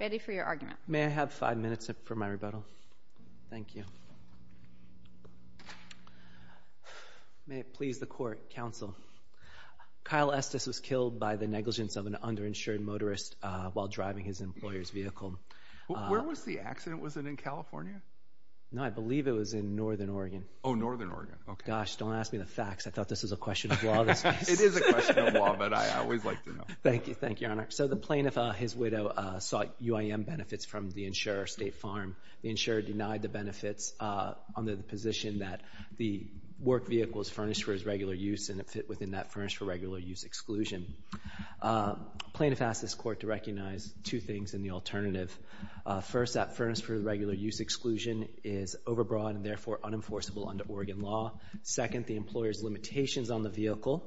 Ready for your argument. May I have five minutes for my rebuttal? Thank you. May it please the court, counsel. Kyle Estes was killed by the negligence of an underinsured motorist while driving his employer's vehicle. Where was the accident? Was it in California? No, I believe it was in Northern Oregon. Oh, Northern Oregon, okay. Gosh, don't ask me the facts. I thought this was a question of law. It is a question of law, but I always like to know. Thank you, thank you, Your Honor. So the plaintiff, his widow, sought UIM benefits from the insurer, State Farm. The insurer denied the benefits under the position that the work vehicle is furnished for his regular use and it fit within that furnished for regular use exclusion. Plaintiff asked this court to recognize two things in the alternative. First, that furnished for regular use exclusion is overbroad and therefore unenforceable under Oregon law. Second, the employer's limitations on the vehicle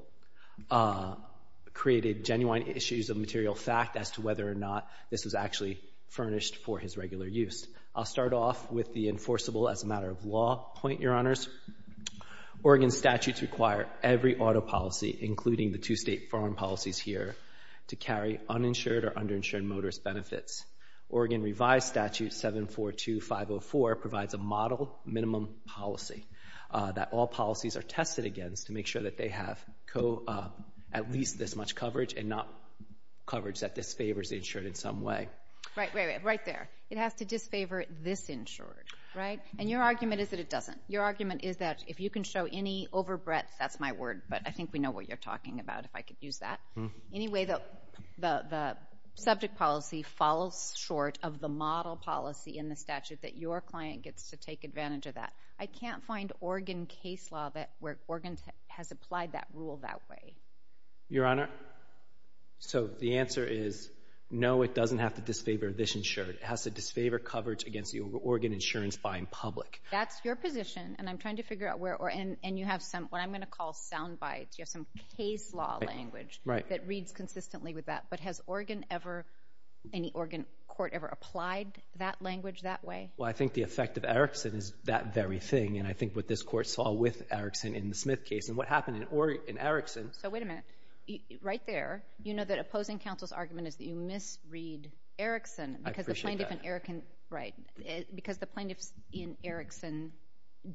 created genuine issues of material fact as to whether or not this was actually furnished for his regular use. I'll start off with the enforceable as a matter of law point, Your Honors. Oregon statutes require every auto policy, including the two State Farm policies here, to carry uninsured or underinsured motorist benefits. Oregon revised statute 742504 provides a model minimum policy that all policies are tested against to make sure that they have at least this much coverage and not coverage that disfavors the insured in some way. Right, right there. It has to disfavor this insured, right? And your argument is that it doesn't. Your argument is that if you can show any over breadth, that's my word, but I think we know what you're talking about if I could use that. Anyway, the subject policy falls short of the model policy in the statute that your client gets to take advantage of that. I can't find Oregon case law that where Oregon has applied that rule that way. Your Honor, so the answer is no, it doesn't have to disfavor this insured. It has to disfavor coverage against the Oregon insurance buying public. That's your position, and I'm trying to figure out where, and you have some, what I'm gonna call sound bites. You have some case law language that reads consistently with that, but has Oregon ever, any Oregon court ever applied that language that way? Well, I think the effect of Erickson is that very thing, and I think what this court saw with Erickson in the Smith case, and what happened in Erickson. So wait a minute, right there, you know that opposing counsel's argument is that you misread Erickson because the plaintiff in Erickson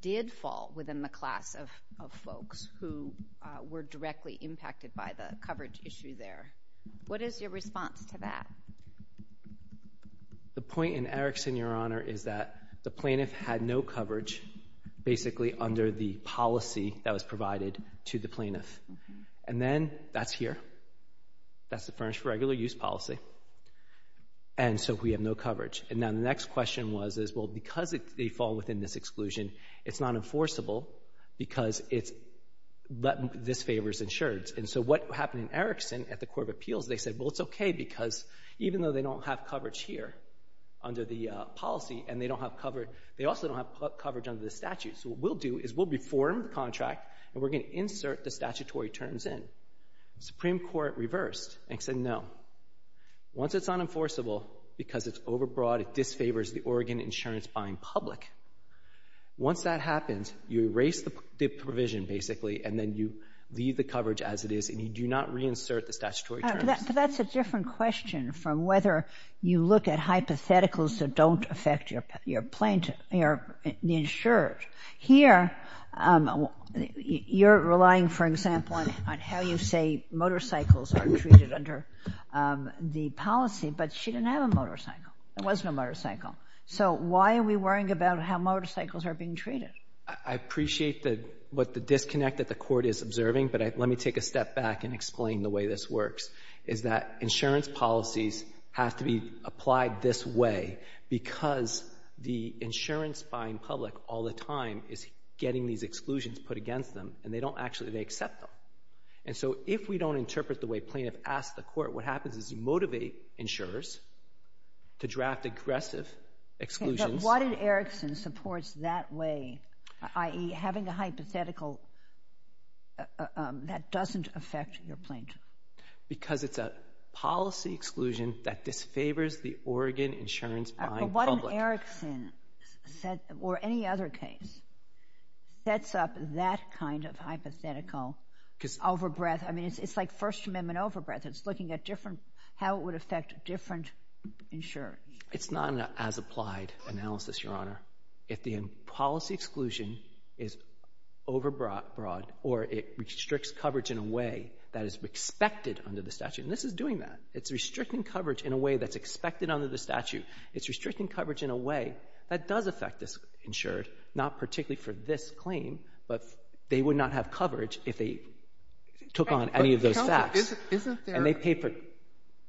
did fall within the class of folks who were directly impacted by the coverage issue there. What is your response to that? The point in Erickson, Your Honor, is that the plaintiff had no coverage, basically under the policy that was provided to the plaintiff. And then, that's here. That's the furnished for regular use policy. And so we have no coverage. And then the next question was, is well, because they fall within this exclusion, it's not enforceable because it's disfavors insured. And so what happened in Erickson at the Court of Appeals, they said, well, it's okay, because even though they don't have coverage here under the policy, and they don't have coverage, they also don't have coverage under the statute. So what we'll do is we'll reform the contract, and we're gonna insert the statutory terms in. Supreme Court reversed and said, no. Once it's unenforceable, because it's overbroad, it disfavors the Oregon insurance buying public. Once that happens, you erase the provision, basically, and then you leave the coverage as it is, and you do not reinsert the statutory terms. But that's a different question from whether you look at hypotheticals that don't affect your insurance. Here, you're relying, for example, on how you say motorcycles are treated under the policy, but she didn't have a motorcycle. There was no motorcycle. So why are we worrying about how motorcycles are being treated? I appreciate what the disconnect that the court is observing, but let me take a step back and explain the way this works, is that insurance policies have to be applied this way because the insurance buying public all the time is getting these exclusions put against them, and they don't actually, they accept them. And so if we don't interpret the way plaintiff asks the court, what happens is you motivate insurers to draft aggressive exclusions. But what if Erickson supports that way, i.e. having a hypothetical that doesn't affect your plaintiff? Because it's a policy exclusion that disfavors the Oregon insurance buying public. But what if Erickson said, or any other case, sets up that kind of hypothetical overbreath? I mean, it's like First Amendment overbreath. It's looking at different, how it would affect different insurance. It's not an as-applied analysis, Your Honor. or it restricts coverage in a way that is expected under the statute. And this is doing that. It's restricting coverage in a way that's expected under the statute. It's restricting coverage in a way that does affect this insured, not particularly for this claim, but they would not have coverage if they took on any of those facts. Isn't there- And they pay for-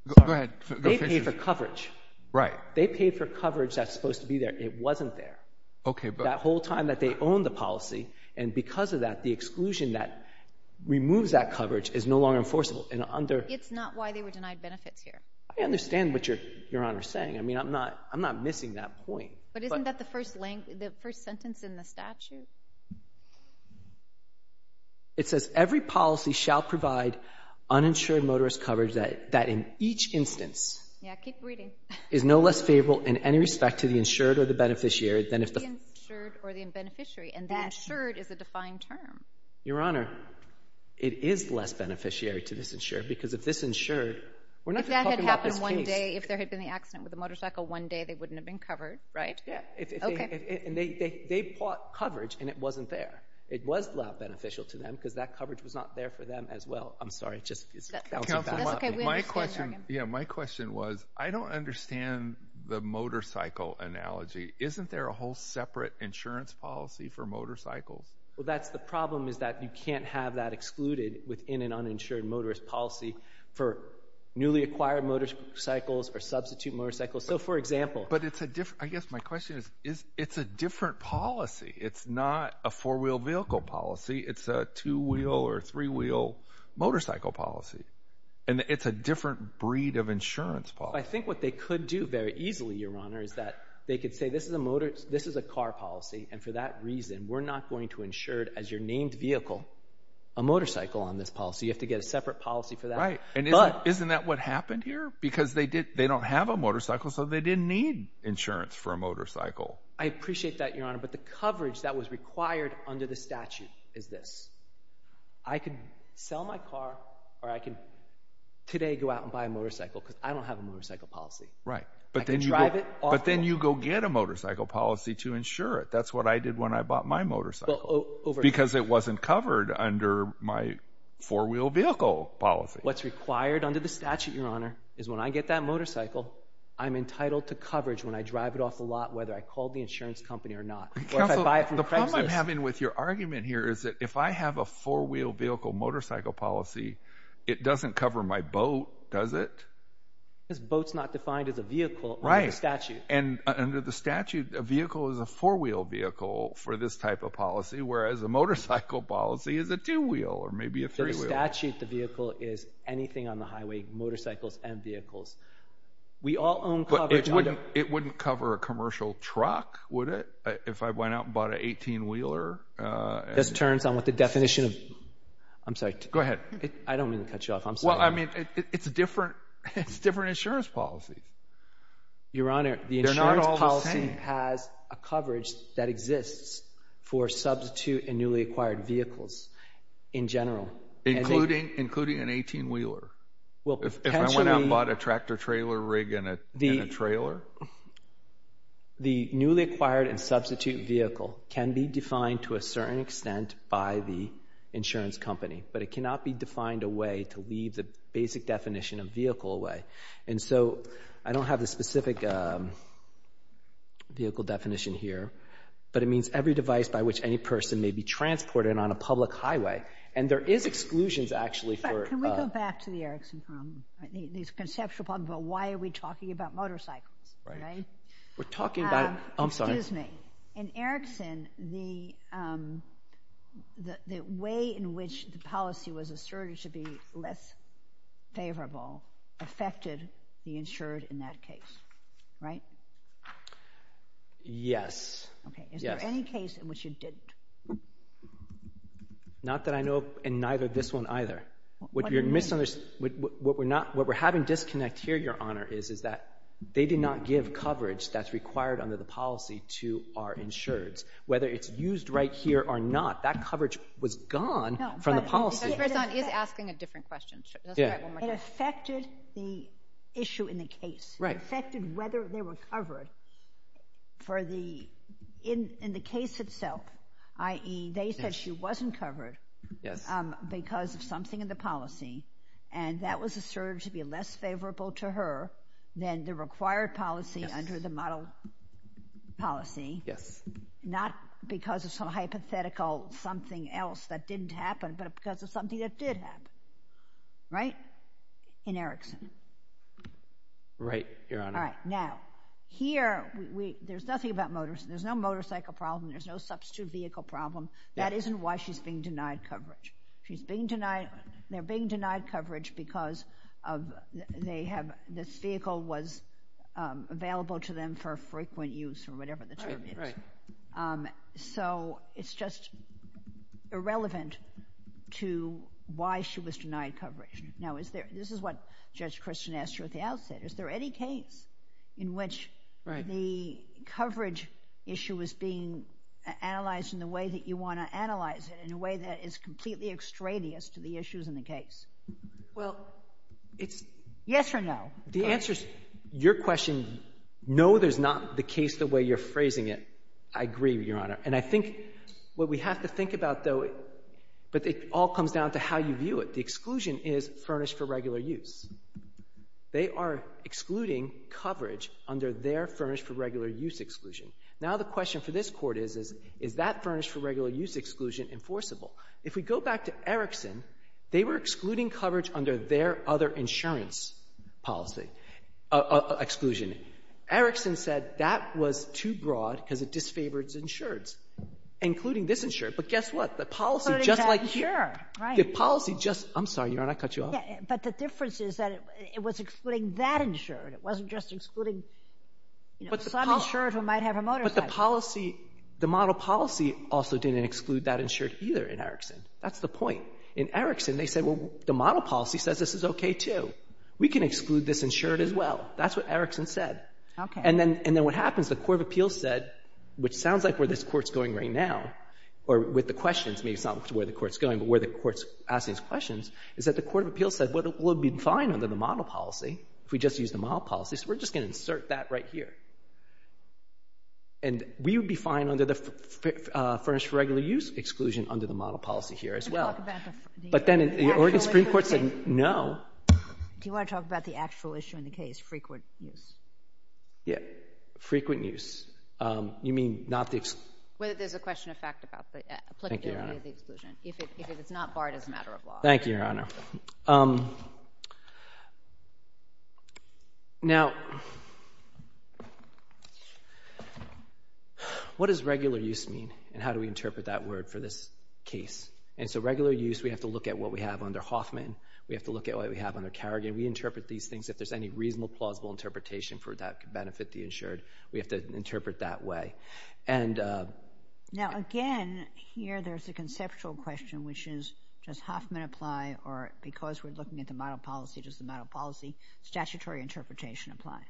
Go ahead. They pay for coverage. Right. They pay for coverage that's supposed to be there. It wasn't there. Okay, but- That whole time that they own the policy, and because of that, the exclusion that removes that coverage is no longer enforceable. And under- It's not why they were denied benefits here. I understand what Your Honor's saying. I mean, I'm not missing that point. But isn't that the first sentence in the statute? It says, every policy shall provide uninsured motorist coverage that in each instance- Yeah, keep reading. Is no less favorable in any respect to the insured or the beneficiary, than if the- The insured or the beneficiary. And the insured is a defined term. Your Honor, it is less beneficiary to this insured, because if this insured, we're not talking about this case- If that had happened one day, if there had been the accident with the motorcycle one day, they wouldn't have been covered, right? Yeah. Okay. And they bought coverage and it wasn't there. It was not beneficial to them, because that coverage was not there for them as well. I'm sorry. It just- Counsel, my question- Yeah, my question was, I don't understand the motorcycle analogy. Isn't there a whole separate insurance policy for motorcycles? Well, that's the problem, is that you can't have that excluded within an uninsured motorist policy for newly acquired motorcycles or substitute motorcycles. So for example- But it's a different, I guess my question is, it's a different policy. It's not a four wheel vehicle policy. It's a two wheel or three wheel motorcycle policy. And it's a different breed of insurance policy. I think what they could do very easily, Your Honor, is that they could say, this is a car policy. And for that reason, we're not going to insure it as your named vehicle, a motorcycle on this policy. You have to get a separate policy for that. Right. And isn't that what happened here? Because they don't have a motorcycle, so they didn't need insurance for a motorcycle. I appreciate that, Your Honor. But the coverage that was required under the statute is this. I can sell my car, or I can today go out and buy a motorcycle, because I don't have a motorcycle policy. Right. I can drive it- But then you go get a motorcycle policy to insure it. That's what I did when I bought my motorcycle, because it wasn't covered under my four wheel vehicle policy. What's required under the statute, Your Honor, is when I get that motorcycle, I'm entitled to coverage when I drive it off the lot, whether I call the insurance company or not. Counsel, the problem I'm having with your argument here is that if I have a four wheel vehicle motorcycle policy, it doesn't cover my boat, does it? Because boat's not defined as a vehicle under the statute. And under the statute, a vehicle is a four wheel vehicle for this type of policy, whereas a motorcycle policy is a two wheel or maybe a three wheel. Under the statute, the vehicle is anything on the highway, motorcycles and vehicles. We all own coverage under- It wouldn't cover a commercial truck, would it, if I went out and bought an 18 wheeler? This turns on what the definition of- I'm sorry. Go ahead. I don't mean to cut you off, I'm sorry. Well, I mean, it's a different insurance policy. Your Honor, the insurance policy has a coverage that exists for substitute and newly acquired vehicles in general. Including an 18 wheeler? Well, potentially- If I went out and bought a tractor trailer rig in a trailer? The newly acquired and substitute vehicle can be defined to a certain extent by the insurance company, but it cannot be defined a way to leave the basic definition of vehicle away. And so, I don't have the specific vehicle definition here, but it means every device by which any person may be transported on a public highway. And there is exclusions, actually, for- In fact, can we go back to the Erickson problem? These conceptual problems about why are we talking about motorcycles, right? We're talking about- I'm sorry. Excuse me. In Erickson, the way in which the policy was asserted to be less favorable affected the insured in that case. Right? Yes. Okay, is there any case in which you didn't? Not that I know of in neither this one either. What we're having disconnect here, Your Honor, is that they did not give coverage that's required under the policy to our insureds. Whether it's used right here or not, that coverage was gone from the policy. Judge Berzon is asking a different question. Let's try it one more time. It affected the issue in the case. Right. It affected whether they were covered for the, in the case itself, i.e., they said she wasn't covered because of something in the policy, and that was asserted to be less favorable to her than the required policy under the model policy. Yes. Not because of some hypothetical something else that didn't happen, but because of something that did happen. Right? In Erickson. Right, Your Honor. All right, now, here, there's nothing about motor, there's no motorcycle problem, there's no substitute vehicle problem. That isn't why she's being denied coverage. She's being denied, they're being denied coverage because they have, this vehicle was available to them for frequent use or whatever the term is. Right, right. So, it's just irrelevant to why she was denied coverage. Now, is there, this is what Judge Christian asked you at the outset. Is there any case in which the coverage issue is being analyzed in the way that you want to analyze it, in a way that is completely extraneous to the issues in the case? Well, it's. Yes or no? The answer's, your question, no, there's not the case the way you're phrasing it. I agree, Your Honor. And I think what we have to think about, though, but it all comes down to how you view it. The exclusion is furnished for regular use. They are excluding coverage under their furnished for regular use exclusion. Now, the question for this court is, is that furnished for regular use exclusion enforceable? If we go back to Erickson, they were excluding coverage under their other insurance policy, exclusion. Erickson said that was too broad because it disfavors insureds, including this insured. But guess what? The policy, just like here, the policy just, I'm sorry, Your Honor, I cut you off. But the difference is that it was excluding that insured. It wasn't just excluding some insured who might have a motorcycle. But the policy, the model policy also didn't exclude that insured either in Erickson. That's the point. In Erickson, they said, well, the model policy says this is okay, too. We can exclude this insured as well. That's what Erickson said. And then what happens, the court of appeals said, which sounds like where this court's going right now, or with the questions, maybe it's not where the court's going, but where the court's asking these questions, is that the court of appeals said, well, it would be fine under the model policy if we just use the model policy. So we're just gonna insert that right here. And we would be fine under the furnished for regular use exclusion under the model policy here as well. But then the Oregon Supreme Court said, no. Do you wanna talk about the actual issue in the case, which is frequent use? Yeah, frequent use. You mean not the exclusion? Whether there's a question of fact about the applicability of the exclusion. If it's not barred as a matter of law. Thank you, Your Honor. Now, what does regular use mean? And how do we interpret that word for this case? And so regular use, we have to look at what we have under Hoffman. We have to look at what we have under Kerrigan. We interpret these things. If there's any reasonable, plausible interpretation for that could benefit the insured, we have to interpret that way. Now again, here there's a conceptual question, which is, does Hoffman apply, or because we're looking at the model policy, does the model policy statutory interpretation apply?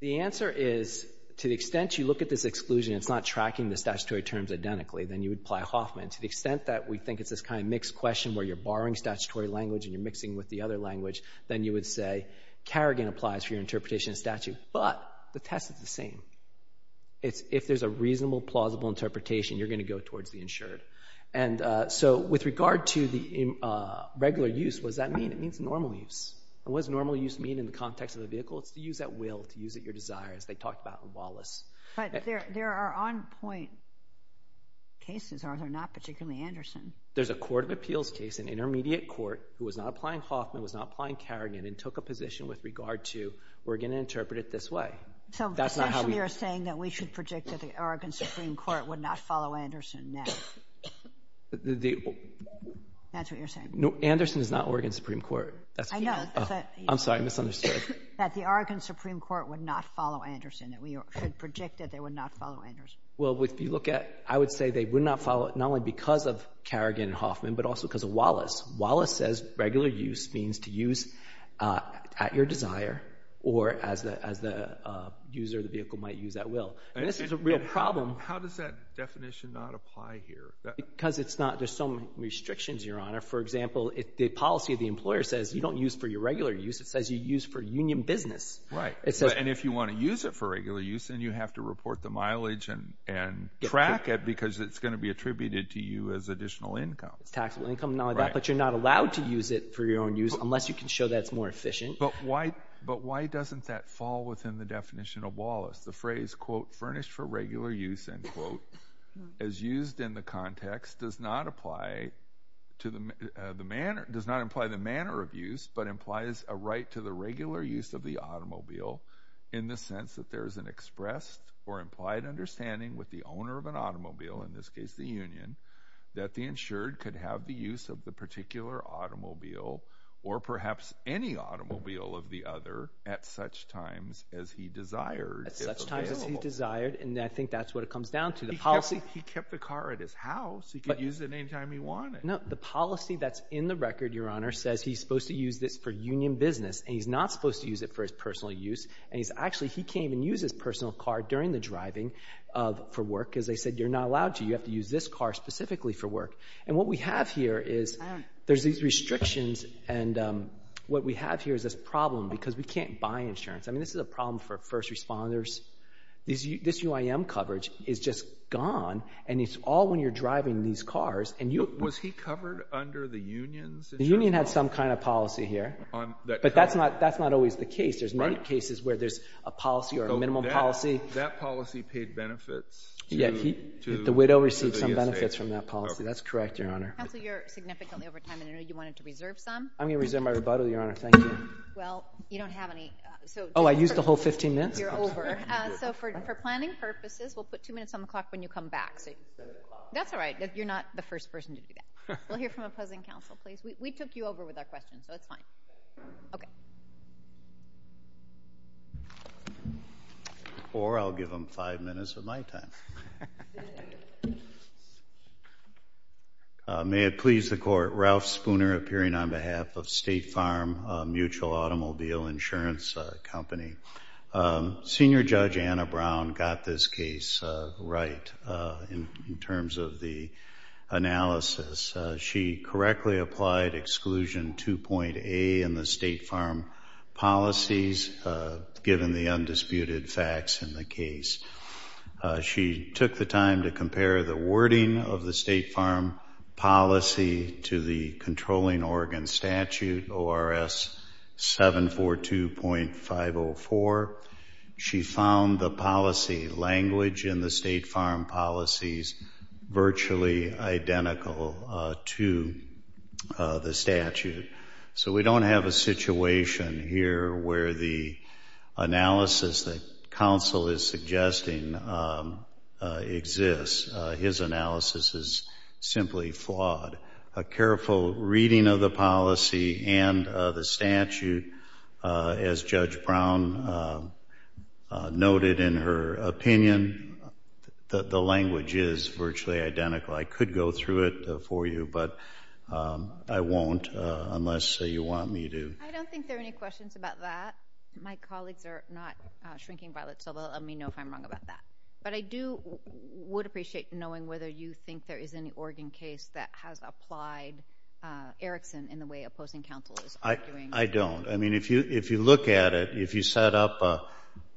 The answer is, to the extent you look at this exclusion, it's not tracking the statutory terms identically, then you would apply Hoffman. To the extent that we think it's this kind of mixed question where you're borrowing statutory language and you're mixing with the other language, then you would say Kerrigan applies for your interpretation of statute, but the test is the same. If there's a reasonable, plausible interpretation, you're gonna go towards the insured. And so with regard to the regular use, what does that mean? It means normal use. And what does normal use mean in the context of the vehicle? It's to use at will, to use at your desire, as they talked about in Wallace. But there are on-point cases, are there not, particularly Anderson? There's a court of appeals case, an intermediate court, who was not applying Hoffman, was not applying Kerrigan, and took a position with regard to, we're gonna interpret it this way. That's not how we- So essentially you're saying that we should predict that the Oregon Supreme Court would not follow Anderson now. That's what you're saying. Anderson is not Oregon Supreme Court. That's what you're saying. I know, but- I'm sorry, I misunderstood. That the Oregon Supreme Court would not follow Anderson, that we should predict that they would not follow Anderson. Well, if you look at, I would say they would not follow, not only because of Kerrigan and Hoffman, but also because of Wallace. Wallace says regular use means to use at your desire, or as the user of the vehicle might use at will. And this is a real problem. How does that definition not apply here? Because it's not, there's some restrictions, Your Honor. For example, the policy of the employer says, you don't use for your regular use, it says you use for union business. Right, and if you wanna use it for regular use, then you have to report the mileage and track it, because it's gonna be attributed to you as additional income. But you're not allowed to use it for your own use, unless you can show that it's more efficient. But why doesn't that fall within the definition of Wallace? The phrase, quote, furnished for regular use, end quote, as used in the context does not apply to the manner, does not imply the manner of use, but implies a right to the regular use of the automobile in the sense that there is an expressed or implied understanding with the owner of an automobile, in this case, the union, that the insured could have the use of the particular automobile, or perhaps any automobile of the other at such times as he desired. At such times as he desired, and I think that's what it comes down to, the policy. He kept the car at his house, he could use it anytime he wanted. No, the policy that's in the record, Your Honor, says he's supposed to use this for union business, and he's not supposed to use it for his personal use, and he's actually, he can't even use his personal car during the driving for work, because they said, you're not allowed to, you have to use this car specifically for work. And what we have here is, there's these restrictions, and what we have here is this problem, because we can't buy insurance. I mean, this is a problem for first responders. This UIM coverage is just gone, and it's all when you're driving these cars, and you- Was he covered under the union's insurance? The union had some kind of policy here, but that's not always the case. There's many cases where there's a policy or a minimum policy. That policy paid benefits to- The widow received some benefits from that policy. That's correct, Your Honor. Counsel, you're significantly over time, and I know you wanted to reserve some. I'm gonna reserve my rebuttal, Your Honor, thank you. Well, you don't have any, so- Oh, I used the whole 15 minutes? You're over. So for planning purposes, we'll put two minutes on the clock when you come back. That's all right, you're not the first person to do that. We'll hear from opposing counsel, please. We took you over with our questions, so it's fine. Okay. Thank you. Or I'll give them five minutes of my time. May it please the Court, Ralph Spooner appearing on behalf of State Farm Mutual Automobile Insurance Company. Senior Judge Anna Brown got this case right in terms of the analysis. She correctly applied exclusion 2.A in the State Farm policies, given the undisputed facts in the case. She took the time to compare the wording of the State Farm policy to the Controlling Oregon Statute, ORS 742.504. She found the policy language in the State Farm policies virtually identical to the statute. So we don't have a situation here where the analysis that counsel is suggesting exists. His analysis is simply flawed. A careful reading of the policy and the statute, as Judge Brown noted in her opinion, the language is virtually identical. I could go through it for you, but I won't unless you want me to. I don't think there are any questions about that. My colleagues are not shrinking violet, so they'll let me know if I'm wrong about that. But I would appreciate knowing whether you think there is any Oregon case that has applied Erickson in the way opposing counsel is arguing. I don't. I mean, if you look at it, if you set up a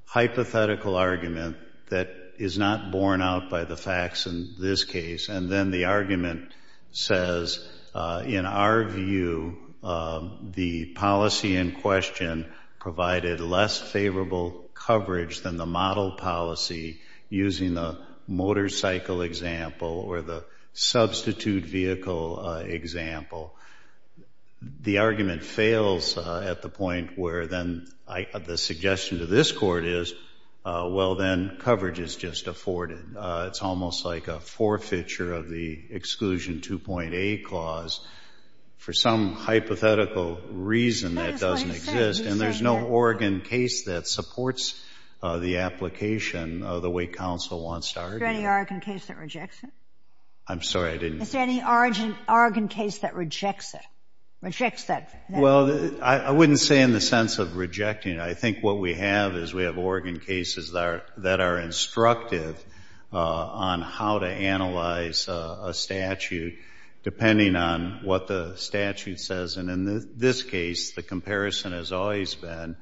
hypothetical argument that is not borne out by the facts in this case, and then the argument says, in our view, the policy in question provided less favorable coverage than the model policy using the motorcycle example or the substitute vehicle example, the argument fails at the point where then the suggestion to this court is, well, then coverage is just afforded. It's almost like a forfeiture of the exclusion 2.8 clause for some hypothetical reason that doesn't exist. And there's no Oregon case that supports the application of the way counsel wants to argue. Is there any Oregon case that rejects it? I'm sorry, I didn't- Is there any Oregon case that rejects it? Rejects that- Well, I wouldn't say in the sense of rejecting it. I think what we have is we have Oregon cases that are instructive on how to analyze a statute depending on what the statute says. And in this case, the comparison has always been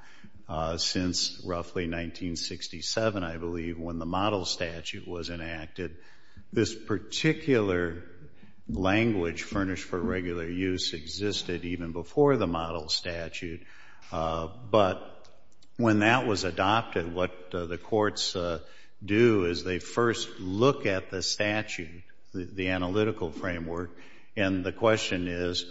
since roughly 1967, I believe, when the model statute was enacted. This particular language, furnished for regular use, existed even before the model statute. But when that was adopted, what the courts do is they first look at the statute, the analytical framework, and the question is,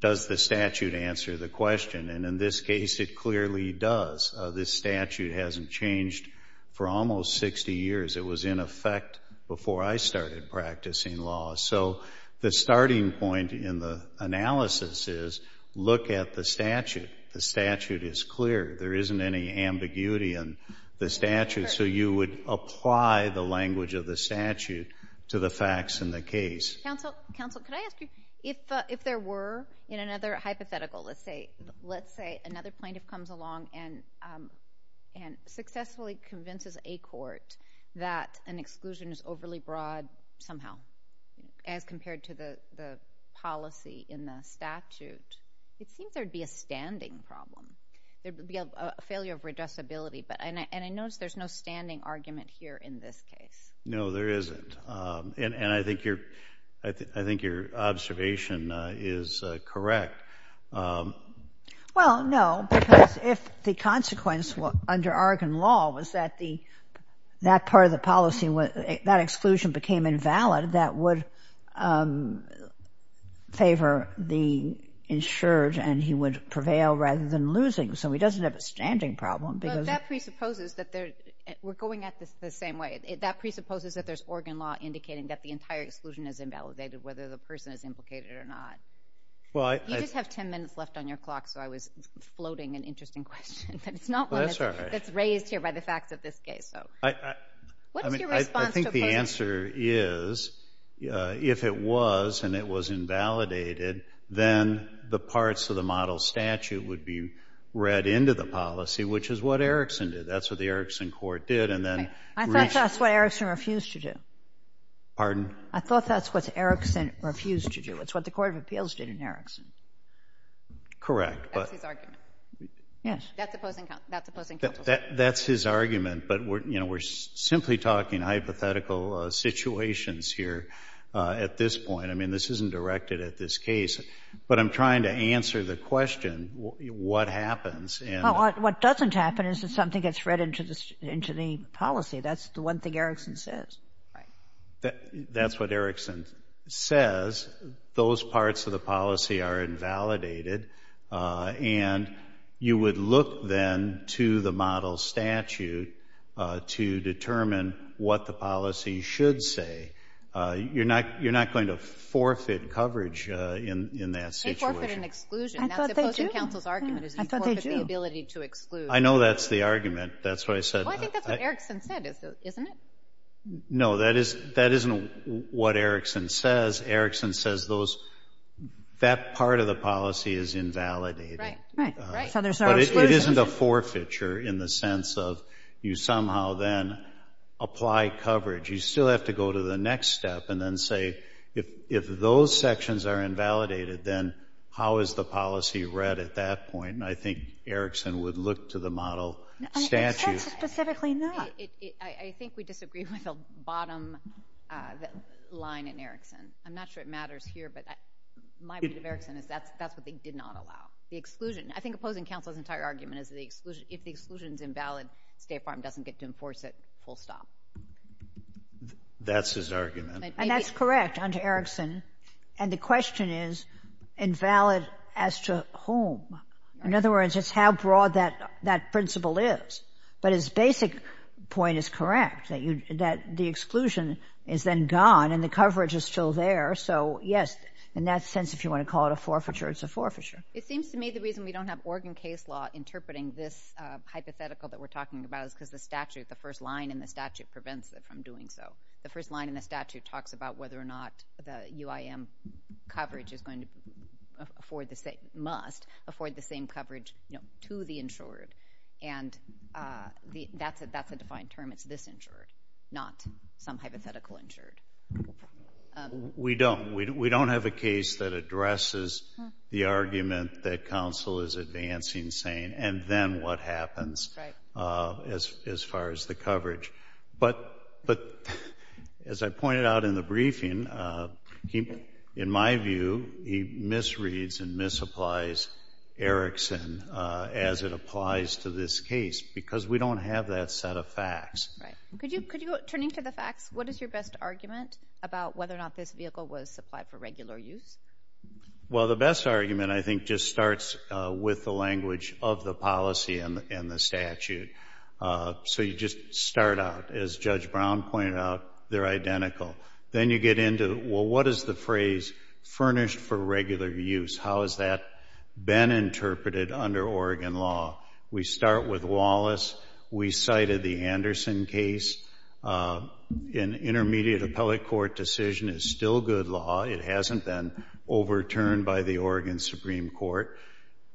does the statute answer the question? And in this case, it clearly does. This statute hasn't changed for almost 60 years. It was in effect before I started practicing law. So the starting point in the analysis is look at the statute. The statute is clear. There isn't any ambiguity in the statute. So you would apply the language of the statute to the facts in the case. Counsel, counsel, could I ask you, if there were in another hypothetical, let's say another plaintiff comes along and successfully convinces a court that an exclusion is overly broad somehow as compared to the policy in the statute, it seems there'd be a standing problem. There'd be a failure of redressability, and I noticed there's no standing argument here in this case. No, there isn't, and I think your observation is correct. Well, no, because if the consequence under Oregon law was that part of the policy, that exclusion became invalid, that would favor the insured, and he would prevail rather than losing. So he doesn't have a standing problem because- But that presupposes that there, we're going at this the same way. That presupposes that there's Oregon law indicating that the entire exclusion is invalidated, whether the person is implicated or not. Well, I- You just have 10 minutes left on your clock, so I was floating an interesting question, but it's not one that's raised here by the facts of this case, so. What is your response to- I think the answer is, if it was and it was invalidated, then the parts of the model statute would be read into the policy, which is what Erickson did. That's what the Erickson court did, and then- I thought that's what Erickson refused to do. Pardon? I thought that's what Erickson refused to do. It's what the Court of Appeals did in Erickson. Correct, but- That's his argument. Yes. That's opposing counsel's argument. That's his argument, but we're, you know, we're simply talking hypothetical situations here at this point. I mean, this isn't directed at this case, but I'm trying to answer the question, what happens in- What doesn't happen is that something gets read into the policy. That's the one thing Erickson says, right? That's what Erickson says. Those parts of the policy are invalidated, and you would look then to the model statute to determine what the policy should say. You're not going to forfeit coverage in that situation. They forfeit an exclusion. I thought they do. That's opposing counsel's argument is you forfeit the ability to exclude. I know that's the argument. That's why I said- Well, I think that's what Erickson said, isn't it? No, that isn't what Erickson says. Erickson says those, that part of the policy is invalidated. Right, right, right. So there's no exclusion. But it isn't a forfeiture in the sense of you somehow then apply coverage. You still have to go to the next step and then say, if those sections are invalidated, then how is the policy read at that point? And I think Erickson would look to the model statute. I said specifically not. I think we disagree with the bottom line in Erickson. I'm not sure it matters here, but my view of Erickson is that's what they did not allow. The exclusion. I think opposing counsel's entire argument is if the exclusion's invalid, State Farm doesn't get to enforce it full stop. That's his argument. And that's correct under Erickson. And the question is, invalid as to whom? In other words, it's how broad that principle is. But his basic point is correct, that the exclusion is then gone and the coverage is still there. So yes, in that sense, if you want to call it a forfeiture, it's a forfeiture. It seems to me the reason we don't have Oregon case law interpreting this hypothetical that we're talking about is because the statute, the first line in the statute prevents it from doing so. The first line in the statute talks about whether or not the UIM coverage is going to afford the same, must afford the same coverage to the insured. And that's a defined term. It's this insured, not some hypothetical insured. We don't. We don't have a case that addresses the argument that counsel is advancing saying, and then what happens as far as the coverage. But as I pointed out in the briefing, in my view, he misreads and misapplies Erickson as it applies to this case, because we don't have that set of facts. Right. Could you, turning to the facts, what is your best argument about whether or not this vehicle was supplied for regular use? Well, the best argument, I think, just starts with the language of the policy and the statute. So you just start out, as Judge Brown pointed out, they're identical. Then you get into, well, what is the phrase furnished for regular use? How has that been interpreted under Oregon law? We start with Wallace. We cited the Anderson case. An intermediate appellate court decision is still good law. It hasn't been overturned by the Oregon Supreme Court.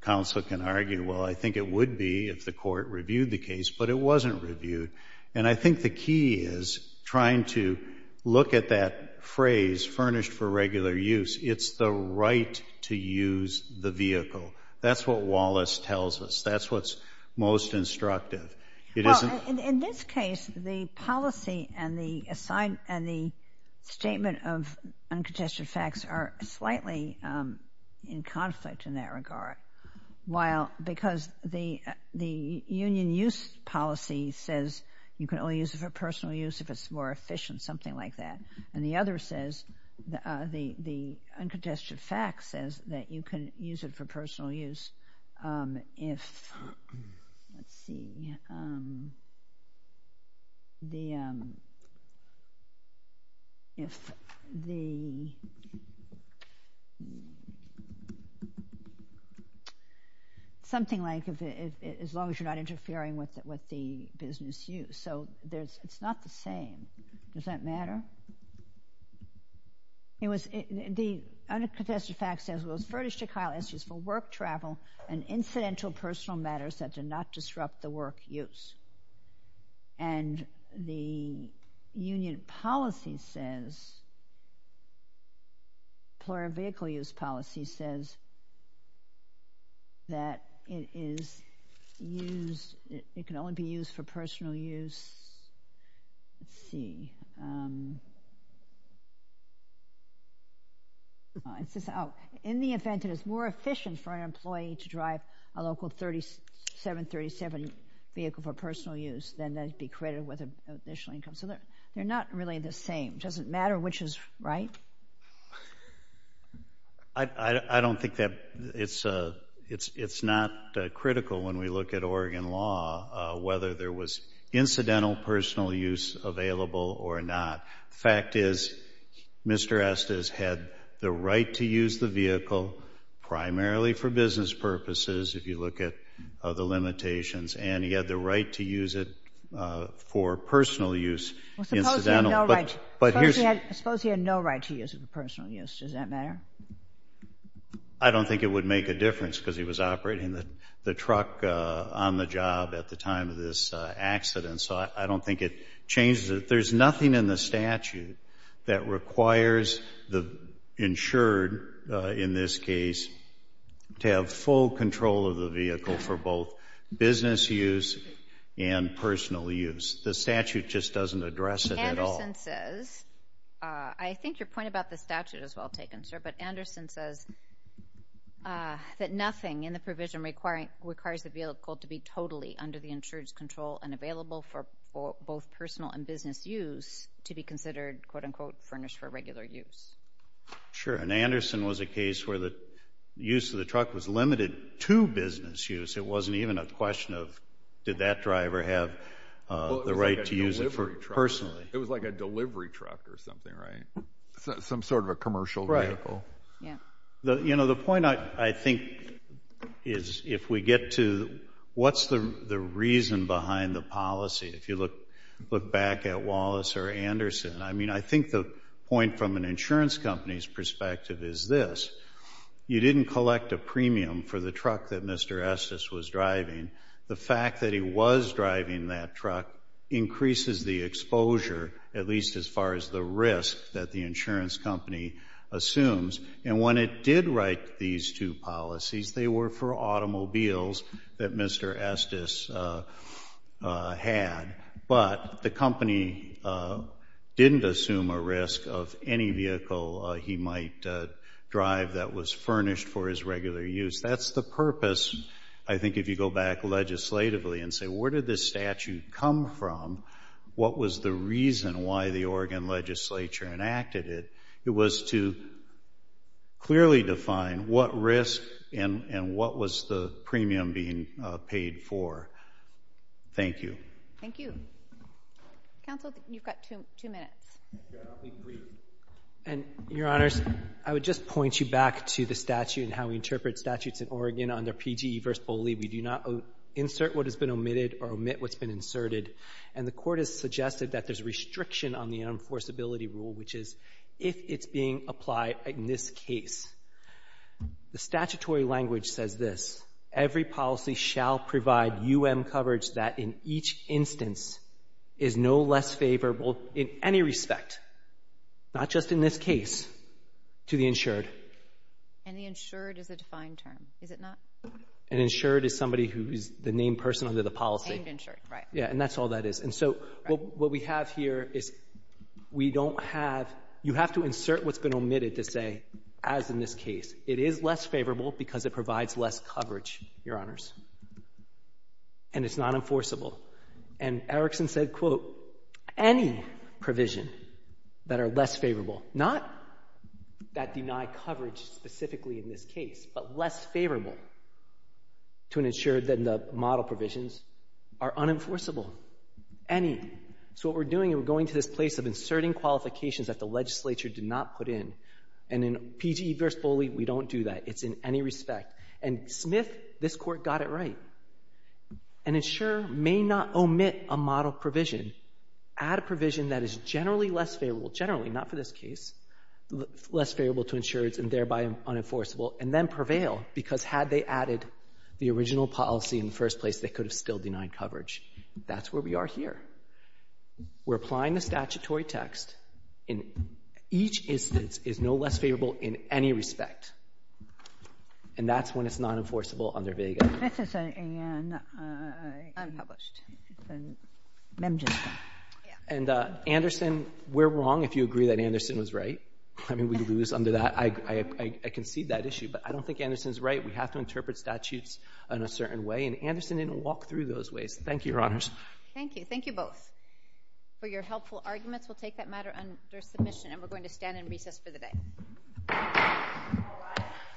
Counsel can argue, well, I think it would be if the court reviewed the case, but it wasn't reviewed. And I think the key is trying to look at that phrase, furnished for regular use. It's the right to use the vehicle. That's what Wallace tells us. That's what's most instructive. It isn't- In this case, the policy and the statement of uncontested facts are slightly in conflict in that regard, because the union use policy says you can only use it for personal use if it's more efficient, something like that. And the other says, the uncontested fact says that you can use it for personal use if, let's see, something like, as long as you're not interfering with the business use. So it's not the same. Does that matter? It was, the uncontested fact says it was furnished to Kyle Eschews for work travel and incidental personal matters that did not disrupt the work use. And the union policy says, employer vehicle use policy says that it is used, it can only be used for personal use. Let's see. Um. In the event it is more efficient for an employee to drive a local 3737 vehicle for personal use than to be credited with an additional income. So they're not really the same. Doesn't matter which is right. I don't think that, it's not critical when we look at Oregon law, whether there was incidental personal use available or not. Fact is, Mr. Estes had the right to use the vehicle primarily for business purposes if you look at the limitations. And he had the right to use it for personal use. Incidental. But here's. Suppose he had no right to use it for personal use. Does that matter? I don't think it would make a difference because he was operating the truck on the job at the time of this accident. So I don't think it changes it. But there's nothing in the statute that requires the insured, in this case, to have full control of the vehicle for both business use and personal use. The statute just doesn't address it at all. Anderson says, I think your point about the statute is well taken, sir, but Anderson says that nothing in the provision requires the vehicle to be totally under the insured's control and available for both personal and business use to be considered, quote unquote, furnished for regular use. Sure, and Anderson was a case where the use of the truck was limited to business use. It wasn't even a question of did that driver have the right to use it for personally. It was like a delivery truck or something, right? Some sort of a commercial vehicle. Yeah. You know, the point I think is if we get to what's the reason behind the policy? If you look back at Wallace or Anderson, I mean, I think the point from an insurance company's perspective is this. You didn't collect a premium for the truck that Mr. Estes was driving. The fact that he was driving that truck increases the exposure, at least as far as the risk that the insurance company assumes. And when it did write these two policies, they were for automobiles that Mr. Estes had. But the company didn't assume a risk of any vehicle he might drive that was furnished for his regular use. That's the purpose, I think, if you go back legislatively and say where did this statute come from? What was the reason why the Oregon legislature enacted it? It was to clearly define what risk and what was the premium being paid for. Thank you. Thank you. Counsel, you've got two minutes. Yeah, I'll be brief. And your honors, I would just point you back to the statute and how we interpret statutes in Oregon under PGE v. Boley. We do not insert what has been omitted or omit what's been inserted. And the court has suggested that there's a restriction on the enforceability rule, which is if it's being applied in this case. The statutory language says this. Every policy shall provide UM coverage that in each instance is no less favorable in any respect, not just in this case, to the insured. And the insured is a defined term, is it not? An insured is somebody who is the named person under the policy. Named insured, right. Yeah, and that's all that is. And so what we have here is we don't have, you have to insert what's been omitted to say, as in this case, it is less favorable because it provides less coverage, your honors. And it's not enforceable. And Erickson said, quote, any provision that are less favorable, not that deny coverage specifically in this case, but less favorable to an insured than the model provisions are unenforceable. Any. So what we're doing, we're going to this place of inserting qualifications that the legislature did not put in. And in PGE versus BOLI, we don't do that. It's in any respect. And Smith, this court got it right. An insurer may not omit a model provision, add a provision that is generally less favorable, generally, not for this case, less favorable to insureds and thereby unenforceable, and then prevail because had they added the original policy in the first place, they could have still denied coverage. That's where we are here. We're applying the statutory text, and each instance is no less favorable in any respect. And that's when it's not enforceable under VEGA. This is an unpublished, it's a mem just. And Anderson, we're wrong if you agree that Anderson was right. I mean, we lose under that. I concede that issue, but I don't think Anderson's right. We have to interpret statutes in a certain way, and Anderson didn't walk through those ways. Thank you, Your Honors. Thank you. Thank you both for your helpful arguments. We'll take that matter under submission, and we're going to stand in recess for the day.